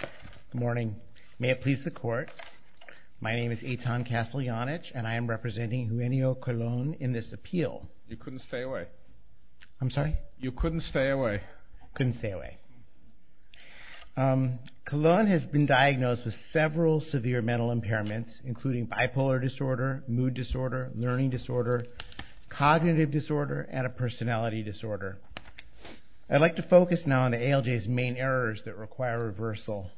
Good morning. May it please the court, my name is Eitan Castellanich, and I am representing Eugenio Colon in this appeal. You couldn't stay away. I'm sorry? You couldn't stay away. Couldn't stay away. Colon has been diagnosed with several severe mental impairments, including bipolar disorder, mood disorder, learning disorder, cognitive disorder, and a personality disorder. I'd like to focus now on the ALJ's main errors that require reversal.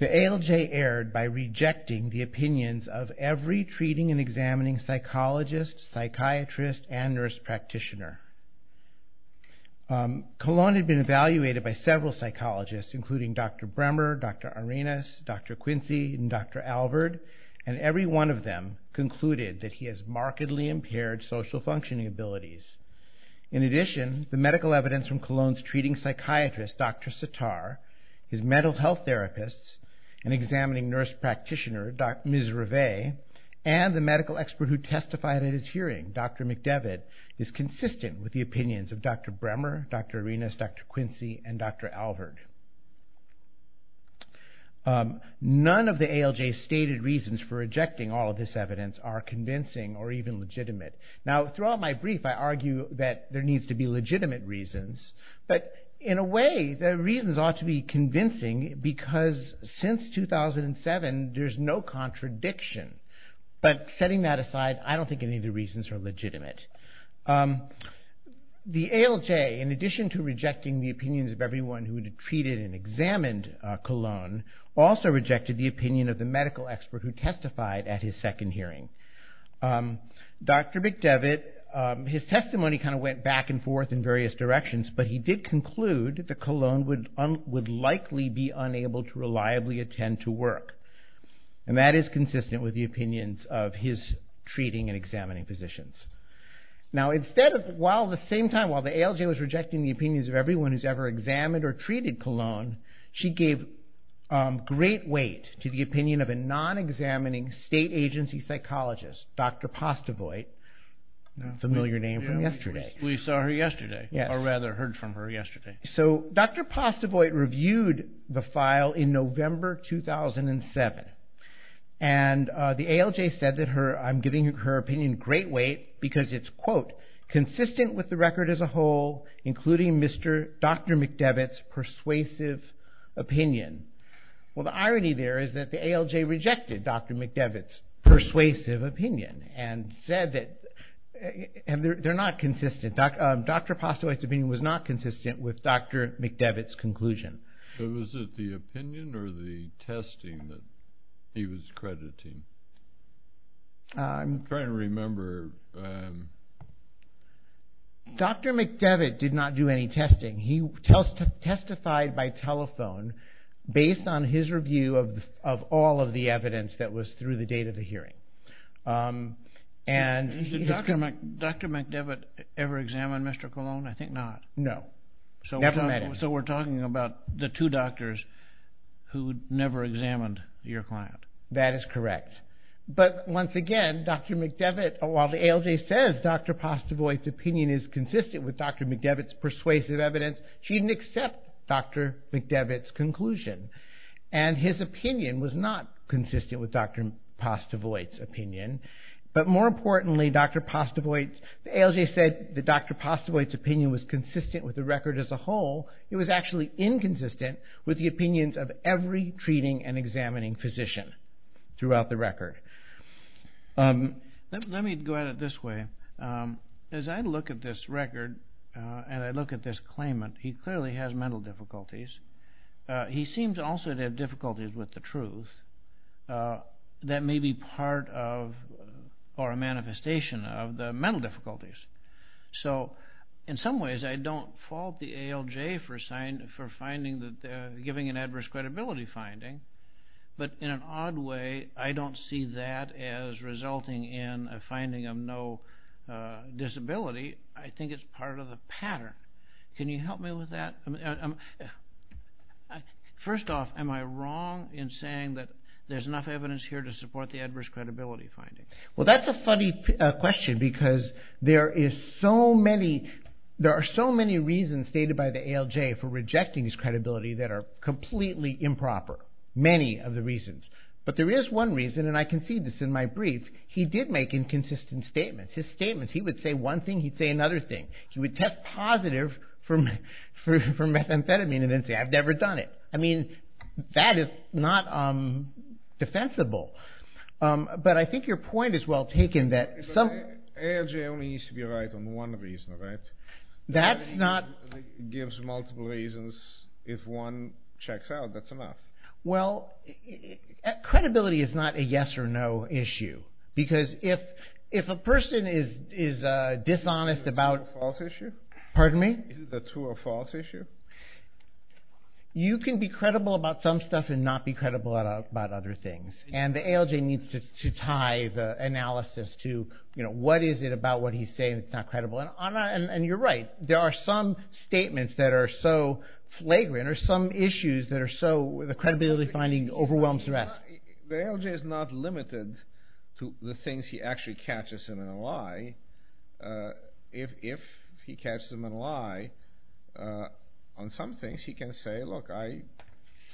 The ALJ erred by rejecting the opinions of every treating and examining psychologist, psychiatrist, and nurse practitioner. Colon had been evaluated by several psychologists, including Dr. Bremer, Dr. Arenas, Dr. Quincy, and Dr. Alvord, and every one of them concluded that he has markedly impaired social functioning abilities. In addition, the medical evidence from Colon's treating psychiatrist, Dr. Sitar, his mental health therapists, an examining nurse practitioner, Dr. Mizrave, and the medical expert who testified at his hearing, Dr. McDevitt, is consistent with the opinions of Dr. Bremer, Dr. Arenas, Dr. Quincy, and Dr. Alvord. None of the ALJ's stated reasons for rejecting all of this evidence are convincing or even legitimate. Now, throughout my brief, I argue that there needs to be legitimate reasons, but in a way, the reasons ought to be convincing because since 2007, there's no contradiction. But setting that aside, I don't think any of the reasons are legitimate. The ALJ, in addition to rejecting the opinions of everyone who had treated and examined Colon, also rejected the opinion of the medical expert who testified at his second hearing. Dr. McDevitt, his testimony kind of went back and forth in various directions, but he did conclude that Colon would likely be unable to reliably attend to work, and that is consistent with the opinions of his treating and examining physicians. Now, at the same time, while the ALJ was rejecting the opinions of everyone who's ever examined or treated Colon, she gave great weight to the opinion of a non-examining state agency psychologist, Dr. Postevoit. A familiar name from yesterday. We saw her yesterday, or rather heard from her yesterday. So, Dr. Postevoit reviewed the file in November 2007, and the ALJ said that I'm giving her opinion great weight because it's, quote, consistent with the record as a whole, including Dr. McDevitt's persuasive opinion. Well, the irony there is that the ALJ rejected Dr. McDevitt's persuasive opinion and said that they're not consistent. Dr. Postevoit's opinion was not consistent with Dr. McDevitt's conclusion. Was it the opinion or the testing that he was crediting? I'm trying to remember. Dr. McDevitt did not do any testing. He testified by telephone based on his review of all of the evidence that was through the date of the hearing. Did Dr. McDevitt ever examine Mr. Colon? I think not. No, never met him. So we're talking about the two doctors who never examined your client. That is correct. But, once again, Dr. McDevitt, while the ALJ says Dr. Postevoit's opinion is consistent with Dr. McDevitt's persuasive evidence, she didn't accept Dr. McDevitt's conclusion. And his opinion was not consistent with Dr. Postevoit's opinion. But, more importantly, Dr. Postevoit, the ALJ said that Dr. Postevoit's opinion was consistent with the record as a whole. It was actually inconsistent with the opinions of every treating and examining physician throughout the record. Let me go at it this way. As I look at this record and I look at this claimant, he clearly has mental difficulties. He seems also to have difficulties with the truth that may be part of or a manifestation of the mental difficulties. So, in some ways, I don't fault the ALJ for giving an adverse credibility finding. But, in an odd way, I don't see that as resulting in a finding of no disability. I think it's part of the pattern. Can you help me with that? First off, am I wrong in saying that there's enough evidence here to support the adverse credibility finding? Well, that's a funny question because there are so many reasons stated by the ALJ for rejecting his credibility that are completely improper. Many of the reasons. But there is one reason, and I can see this in my brief. He did make inconsistent statements. His statements, he would say one thing, he'd say another thing. He would test positive for methamphetamine and then say, I've never done it. I mean, that is not defensible. But I think your point is well taken that some... ALJ only needs to be right on one reason, right? That's not... It gives multiple reasons. If one checks out, that's enough. Well, credibility is not a yes or no issue. Because if a person is dishonest about... Is it a true or false issue? Pardon me? Is it a true or false issue? You can be credible about some stuff and not be credible about other things. And the ALJ needs to tie the analysis to, you know, what is it about what he's saying that's not credible. And you're right. There are some statements that are so flagrant or some issues that are so... The credibility finding overwhelms the rest. The ALJ is not limited to the things he actually catches in a lie. If he catches him in a lie on some things, he can say, look, I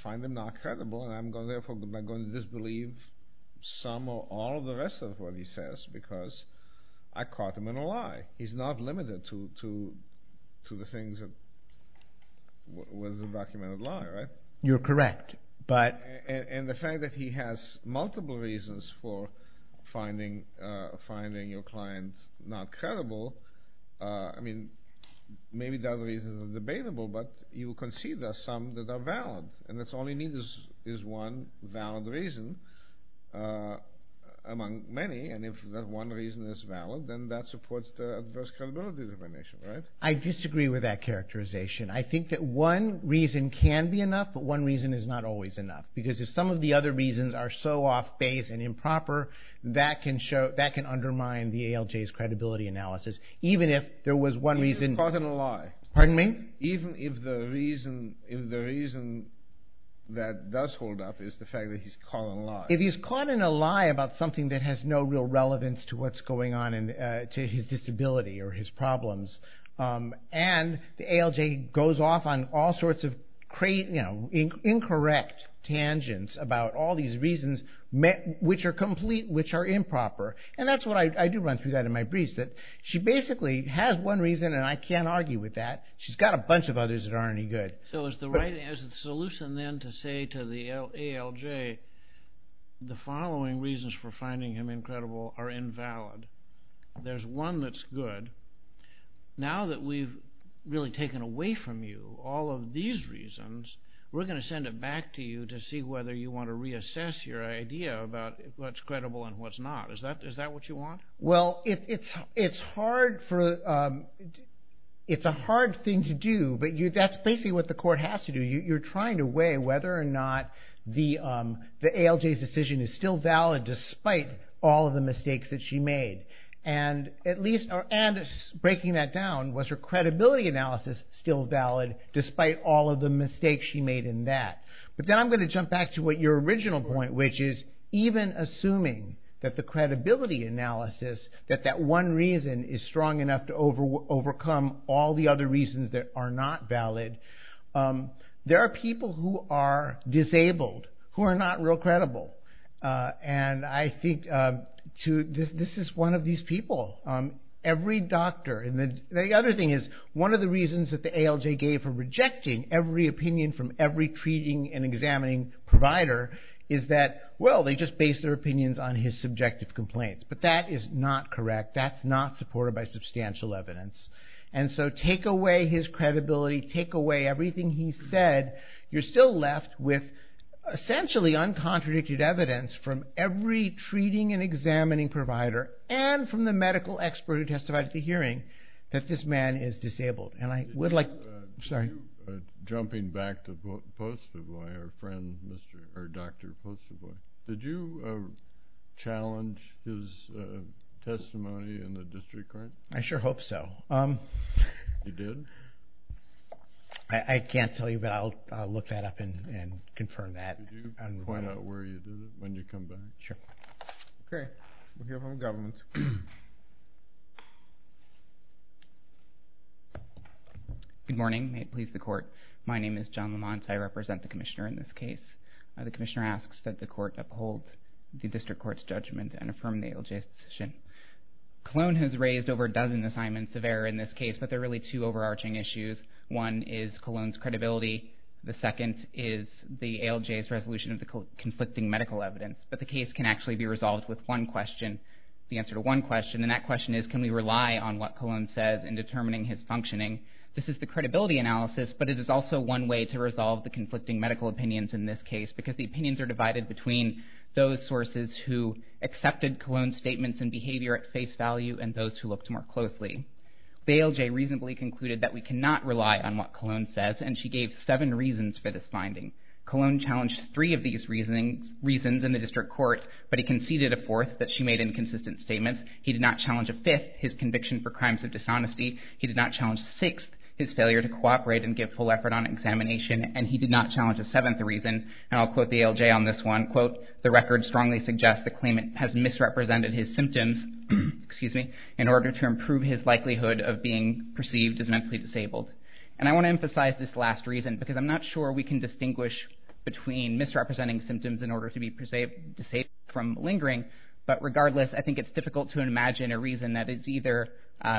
find them not credible. And I'm therefore going to disbelieve some or all the rest of what he says because I caught him in a lie. He's not limited to the things that was a documented lie, right? You're correct. And the fact that he has multiple reasons for finding your client not credible, I mean, maybe the other reasons are debatable, but you can see there are some that are valid. And that's all you need is one valid reason among many. And if that one reason is valid, then that supports the adverse credibility definition, right? I disagree with that characterization. I think that one reason can be enough, but one reason is not always enough because if some of the other reasons are so off-base and improper, that can undermine the ALJ's credibility analysis, even if there was one reason... Even if he's caught in a lie. Pardon me? Even if the reason that does hold up is the fact that he's caught in a lie. If he's caught in a lie about something that has no real relevance to what's going on and to his disability or his problems, and the ALJ goes off on all sorts of incorrect tangents about all these reasons, which are complete, which are improper. And that's what I do run through that in my briefs, that she basically has one reason and I can't argue with that. She's got a bunch of others that aren't any good. So is the solution then to say to the ALJ, the following reasons for finding him incredible are invalid. There's one that's good. Now that we've really taken away from you all of these reasons, we're going to send it back to you to see whether you want to reassess your idea about what's credible and what's not. Is that what you want? Well, it's a hard thing to do, but that's basically what the court has to do. You're trying to weigh whether or not the ALJ's decision is still valid despite all of the mistakes that she made. And breaking that down, was her credibility analysis still valid despite all of the mistakes she made in that? But then I'm going to jump back to what your original point, which is even assuming that the credibility analysis, that that one reason is strong enough to overcome all the other reasons that are not valid, there are people who are disabled, who are not real credible. And I think this is one of these people. Every doctor, and the other thing is, one of the reasons that the ALJ gave for rejecting every opinion from every treating and examining provider is that, well, they just based their opinions on his subjective complaints. But that is not correct. That's not supported by substantial evidence. And so take away his credibility. Take away everything he said. You're still left with essentially uncontradicted evidence from every treating and examining provider and from the medical expert who testified at the hearing that this man is disabled. And I would like... Sorry. Jumping back to Postavoy, our friend, or Dr. Postavoy, did you challenge his testimony in the district court? I sure hope so. You did? I can't tell you, but I'll look that up and confirm that. Could you point out where you did it when you come back? Sure. Okay. We'll hear from the government. Good morning. May it please the court. My name is John Lamont. I represent the commissioner in this case. The commissioner asks that the court uphold the district court's judgment and affirm the ALJ's decision. Cologne has raised over a dozen assignments of error in this case, but there are really two overarching issues. One is Cologne's credibility. The second is the ALJ's resolution of the conflicting medical evidence. But the case can actually be resolved with one question. The answer to one question, and that question is, can we rely on what Cologne says in determining his functioning? This is the credibility analysis, but it is also one way to resolve the conflicting medical opinions in this case because the opinions are divided between those sources who accepted Cologne's statements and behavior at face value and those who looked more closely. The ALJ reasonably concluded that we cannot rely on what Cologne says, and she gave seven reasons for this finding. Cologne challenged three of these reasons in the district court, but he conceded a fourth that she made inconsistent statements. He did not challenge a fifth, his conviction for crimes of dishonesty. He did not challenge a sixth, his failure to cooperate and give full effort on examination. And he did not challenge a seventh reason, and I'll quote the ALJ on this one. I'll quote, the record strongly suggests the claimant has misrepresented his symptoms in order to improve his likelihood of being perceived as mentally disabled. And I want to emphasize this last reason because I'm not sure we can distinguish between misrepresenting symptoms in order to be disabled from lingering, but regardless, I think it's difficult to imagine a reason that is either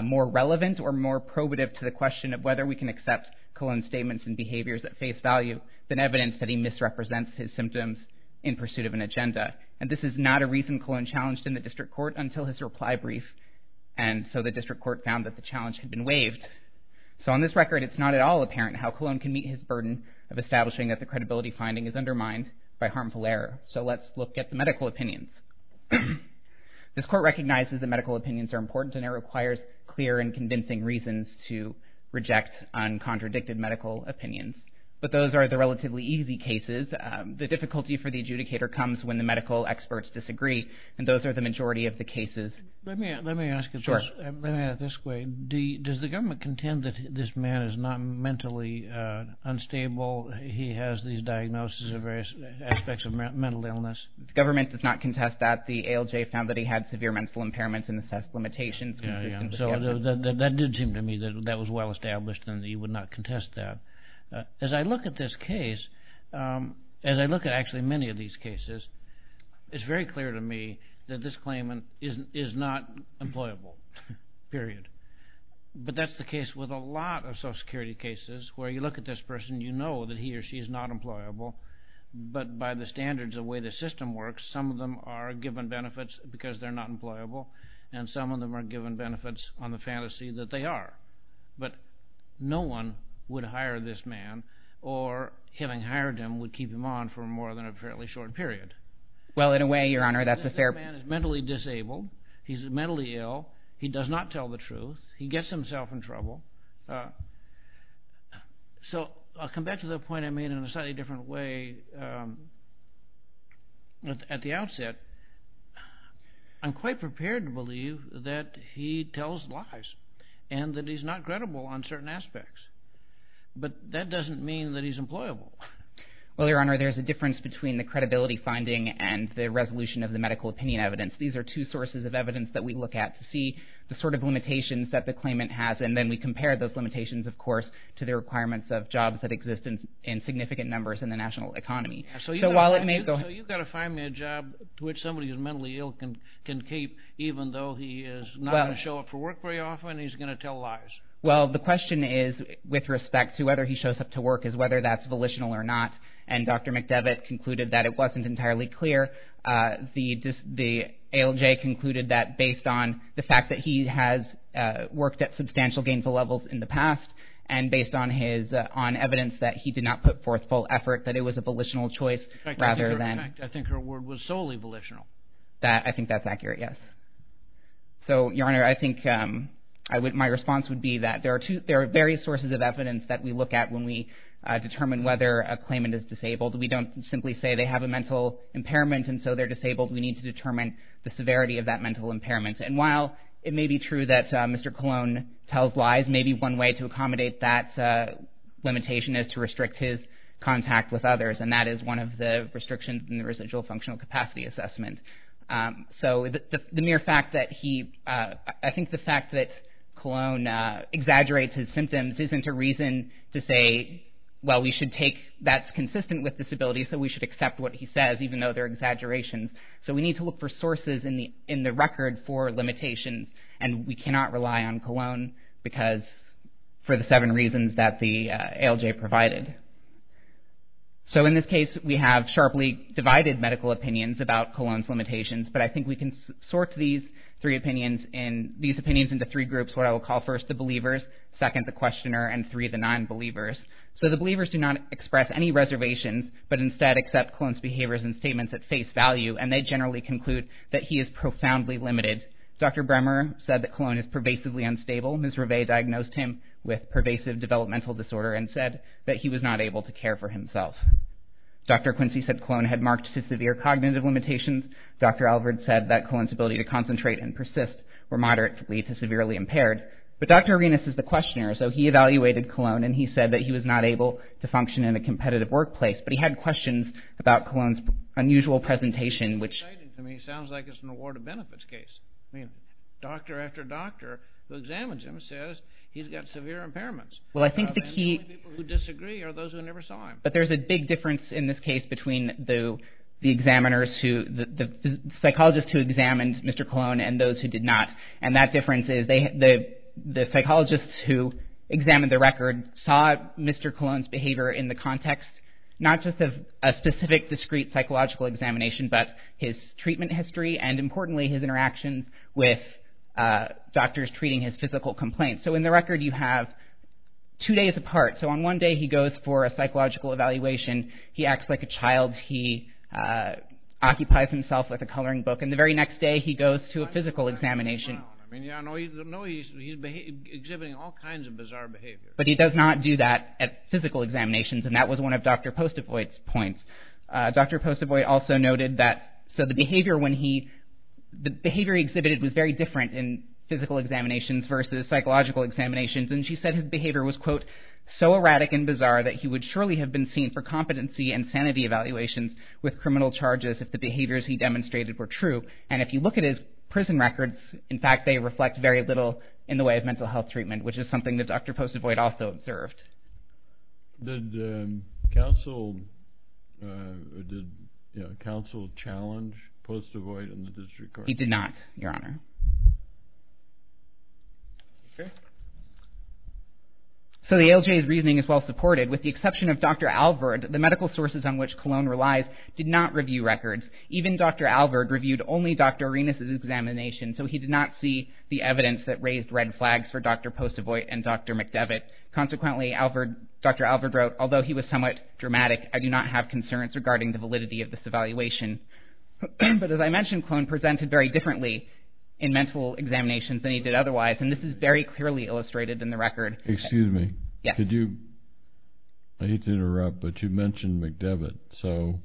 more relevant or more probative to the question of whether we can accept Cologne's statements and behaviors at face value than evidence that he misrepresents his symptoms in pursuit of an agenda. And this is not a reason Cologne challenged in the district court until his reply brief, and so the district court found that the challenge had been waived. So on this record, it's not at all apparent how Cologne can meet his burden of establishing that the credibility finding is undermined by harmful error. So let's look at the medical opinions. This court recognizes that medical opinions are important and it requires clear and convincing reasons to reject uncontradicted medical opinions. But those are the relatively easy cases. The difficulty for the adjudicator comes when the medical experts disagree, and those are the majority of the cases. Let me ask it this way. Does the government contend that this man is not mentally unstable? He has these diagnoses of various aspects of mental illness. The government does not contest that. The ALJ found that he had severe mental impairments and assessed limitations. So that did seem to me that that was well established and that he would not contest that. As I look at this case, as I look at actually many of these cases, it's very clear to me that this claimant is not employable, period. But that's the case with a lot of Social Security cases where you look at this person, you know that he or she is not employable, but by the standards of the way the system works, some of them are given benefits because they're not employable, and some of them are given benefits on the fantasy that they are. But no one would hire this man, or having hired him would keep him on for more than a fairly short period. Well, in a way, Your Honor, that's a fair point. This man is mentally disabled. He's mentally ill. He does not tell the truth. He gets himself in trouble. So I'll come back to the point I made in a slightly different way at the outset. I'm quite prepared to believe that he tells lies and that he's not credible on certain aspects. But that doesn't mean that he's employable. Well, Your Honor, there's a difference between the credibility finding and the resolution of the medical opinion evidence. These are two sources of evidence that we look at to see the sort of limitations that the claimant has, and then we compare those limitations, of course, to the requirements of jobs that exist in significant numbers in the national economy. So you've got to find me a job to which somebody who's mentally ill can keep even though he is not going to show up for work very often. He's going to tell lies. Well, the question is, with respect to whether he shows up to work, is whether that's volitional or not. And Dr. McDevitt concluded that it wasn't entirely clear. The ALJ concluded that based on the fact that he has worked at substantial gainful levels in the past and based on evidence that he did not put forth full effort, that it was a volitional choice rather than— In fact, I think her word was solely volitional. I think that's accurate, yes. So, Your Honor, I think my response would be that there are various sources of evidence that we look at when we determine whether a claimant is disabled. We don't simply say they have a mental impairment and so they're disabled. We need to determine the severity of that mental impairment. And while it may be true that Mr. Colon tells lies, maybe one way to accommodate that limitation is to restrict his contact with others, and that is one of the restrictions in the residual functional capacity assessment. So the mere fact that he—I think the fact that Colon exaggerates his symptoms isn't a reason to say, well, we should take—that's consistent with disability, so we should accept what he says even though they're exaggerations. So we need to look for sources in the record for limitations, and we cannot rely on Colon because—for the seven reasons that the ALJ provided. So in this case, we have sharply divided medical opinions about Colon's limitations, but I think we can sort these three opinions into three groups, what I will call first the believers, second the questioner, and three, the non-believers. So the believers do not express any reservations, but instead accept Colon's behaviors and statements at face value, and they generally conclude that he is profoundly limited. Dr. Bremer said that Colon is pervasively unstable. Ms. Rive diagnosed him with pervasive developmental disorder and said that he was not able to care for himself. Dr. Quincy said Colon had marked to severe cognitive limitations. Dr. Alvord said that Colon's ability to concentrate and persist were moderately to severely impaired. But Dr. Arenas is the questioner, so he evaluated Colon, and he said that he was not able to function in a competitive workplace, but he had questions about Colon's unusual presentation, which— It's exciting to me. It sounds like it's an award of benefits case. I mean, doctor after doctor who examines him says he's got severe impairments. Well, I think the key— The only people who disagree are those who never saw him. But there's a big difference in this case between the examiners who— the psychologists who examined Mr. Colon and those who did not, and that difference is the psychologists who examined the record saw Mr. Colon's behavior in the context not just of a specific discrete psychological examination, but his treatment history and, importantly, his interactions with doctors treating his physical complaints. So in the record you have two days apart. So on one day he goes for a psychological evaluation. He acts like a child. He occupies himself with a coloring book, and the very next day he goes to a physical examination. I mean, I know he's exhibiting all kinds of bizarre behavior. But he does not do that at physical examinations, and that was one of Dr. Postavoy's points. Dr. Postavoy also noted that— So the behavior when he— in physical examinations versus psychological examinations, and she said his behavior was, quote, so erratic and bizarre that he would surely have been seen for competency and sanity evaluations with criminal charges if the behaviors he demonstrated were true. And if you look at his prison records, in fact, they reflect very little in the way of mental health treatment, which is something that Dr. Postavoy had also observed. Did counsel challenge Postavoy in the district court? He did not, Your Honor. So the ALJ's reasoning is well supported. With the exception of Dr. Alvord, the medical sources on which Cologne relies did not review records. Even Dr. Alvord reviewed only Dr. Arenas' examination, so he did not see the evidence that raised red flags for Dr. Postavoy and Dr. McDevitt. Consequently, Dr. Alvord wrote, although he was somewhat dramatic, I do not have concerns regarding the validity of this evaluation. But as I mentioned, Cologne presented very differently in mental examinations than he did otherwise, and this is very clearly illustrated in the record. Excuse me. Yes. I hate to interrupt, but you mentioned McDevitt. So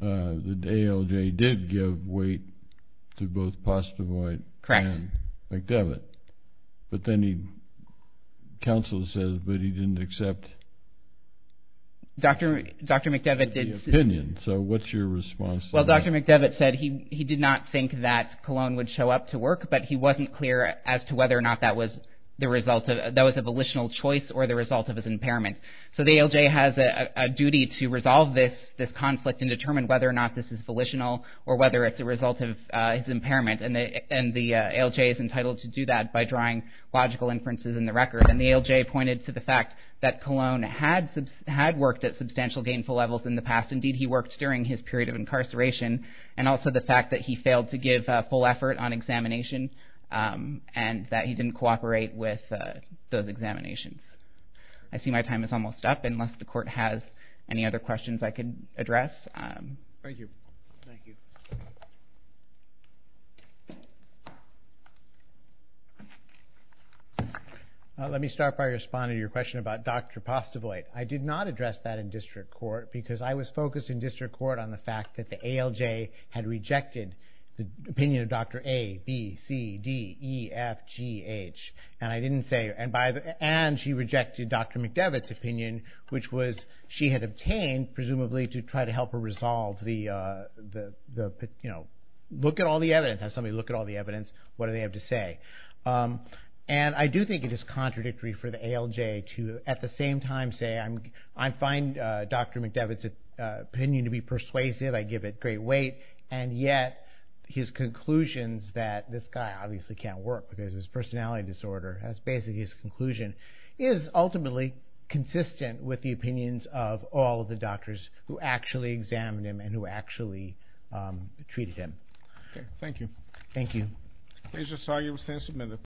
the ALJ did give weight to both Postavoy and McDevitt, but then counsel says that he didn't accept the opinion. So what's your response to that? Well, Dr. McDevitt said he did not think that Cologne would show up to work, but he wasn't clear as to whether or not that was a volitional choice or the result of his impairment. So the ALJ has a duty to resolve this conflict and determine whether or not this is volitional or whether it's a result of his impairment, and the ALJ is entitled to do that by drawing logical inferences in the record. And the ALJ pointed to the fact that Cologne had worked at substantial gainful levels in the past. Indeed, he worked during his period of incarceration, and also the fact that he failed to give full effort on examination and that he didn't cooperate with those examinations. I see my time is almost up unless the court has any other questions I can address. Thank you. Thank you. Let me start by responding to your question about Dr. Postavoy. I did not address that in district court because I was focused in district court on the fact that the ALJ had rejected the opinion of Dr. A, B, C, D, E, F, G, H. And I didn't say... And she rejected Dr. McDevitt's opinion, which was she had obtained, presumably, to try to help her resolve the... Look at all the evidence. Have somebody look at all the evidence. What do they have to say? And I do think it is contradictory for the ALJ to, at the same time, say I find Dr. McDevitt's opinion to be persuasive, I give it great weight, and yet his conclusions that this guy obviously can't work because of his personality disorder, that's basically his conclusion, is ultimately consistent with the opinions of all of the doctors who actually examined him and who actually treated him. Okay. Thank you. Thank you. I'm sorry I was absent a minute.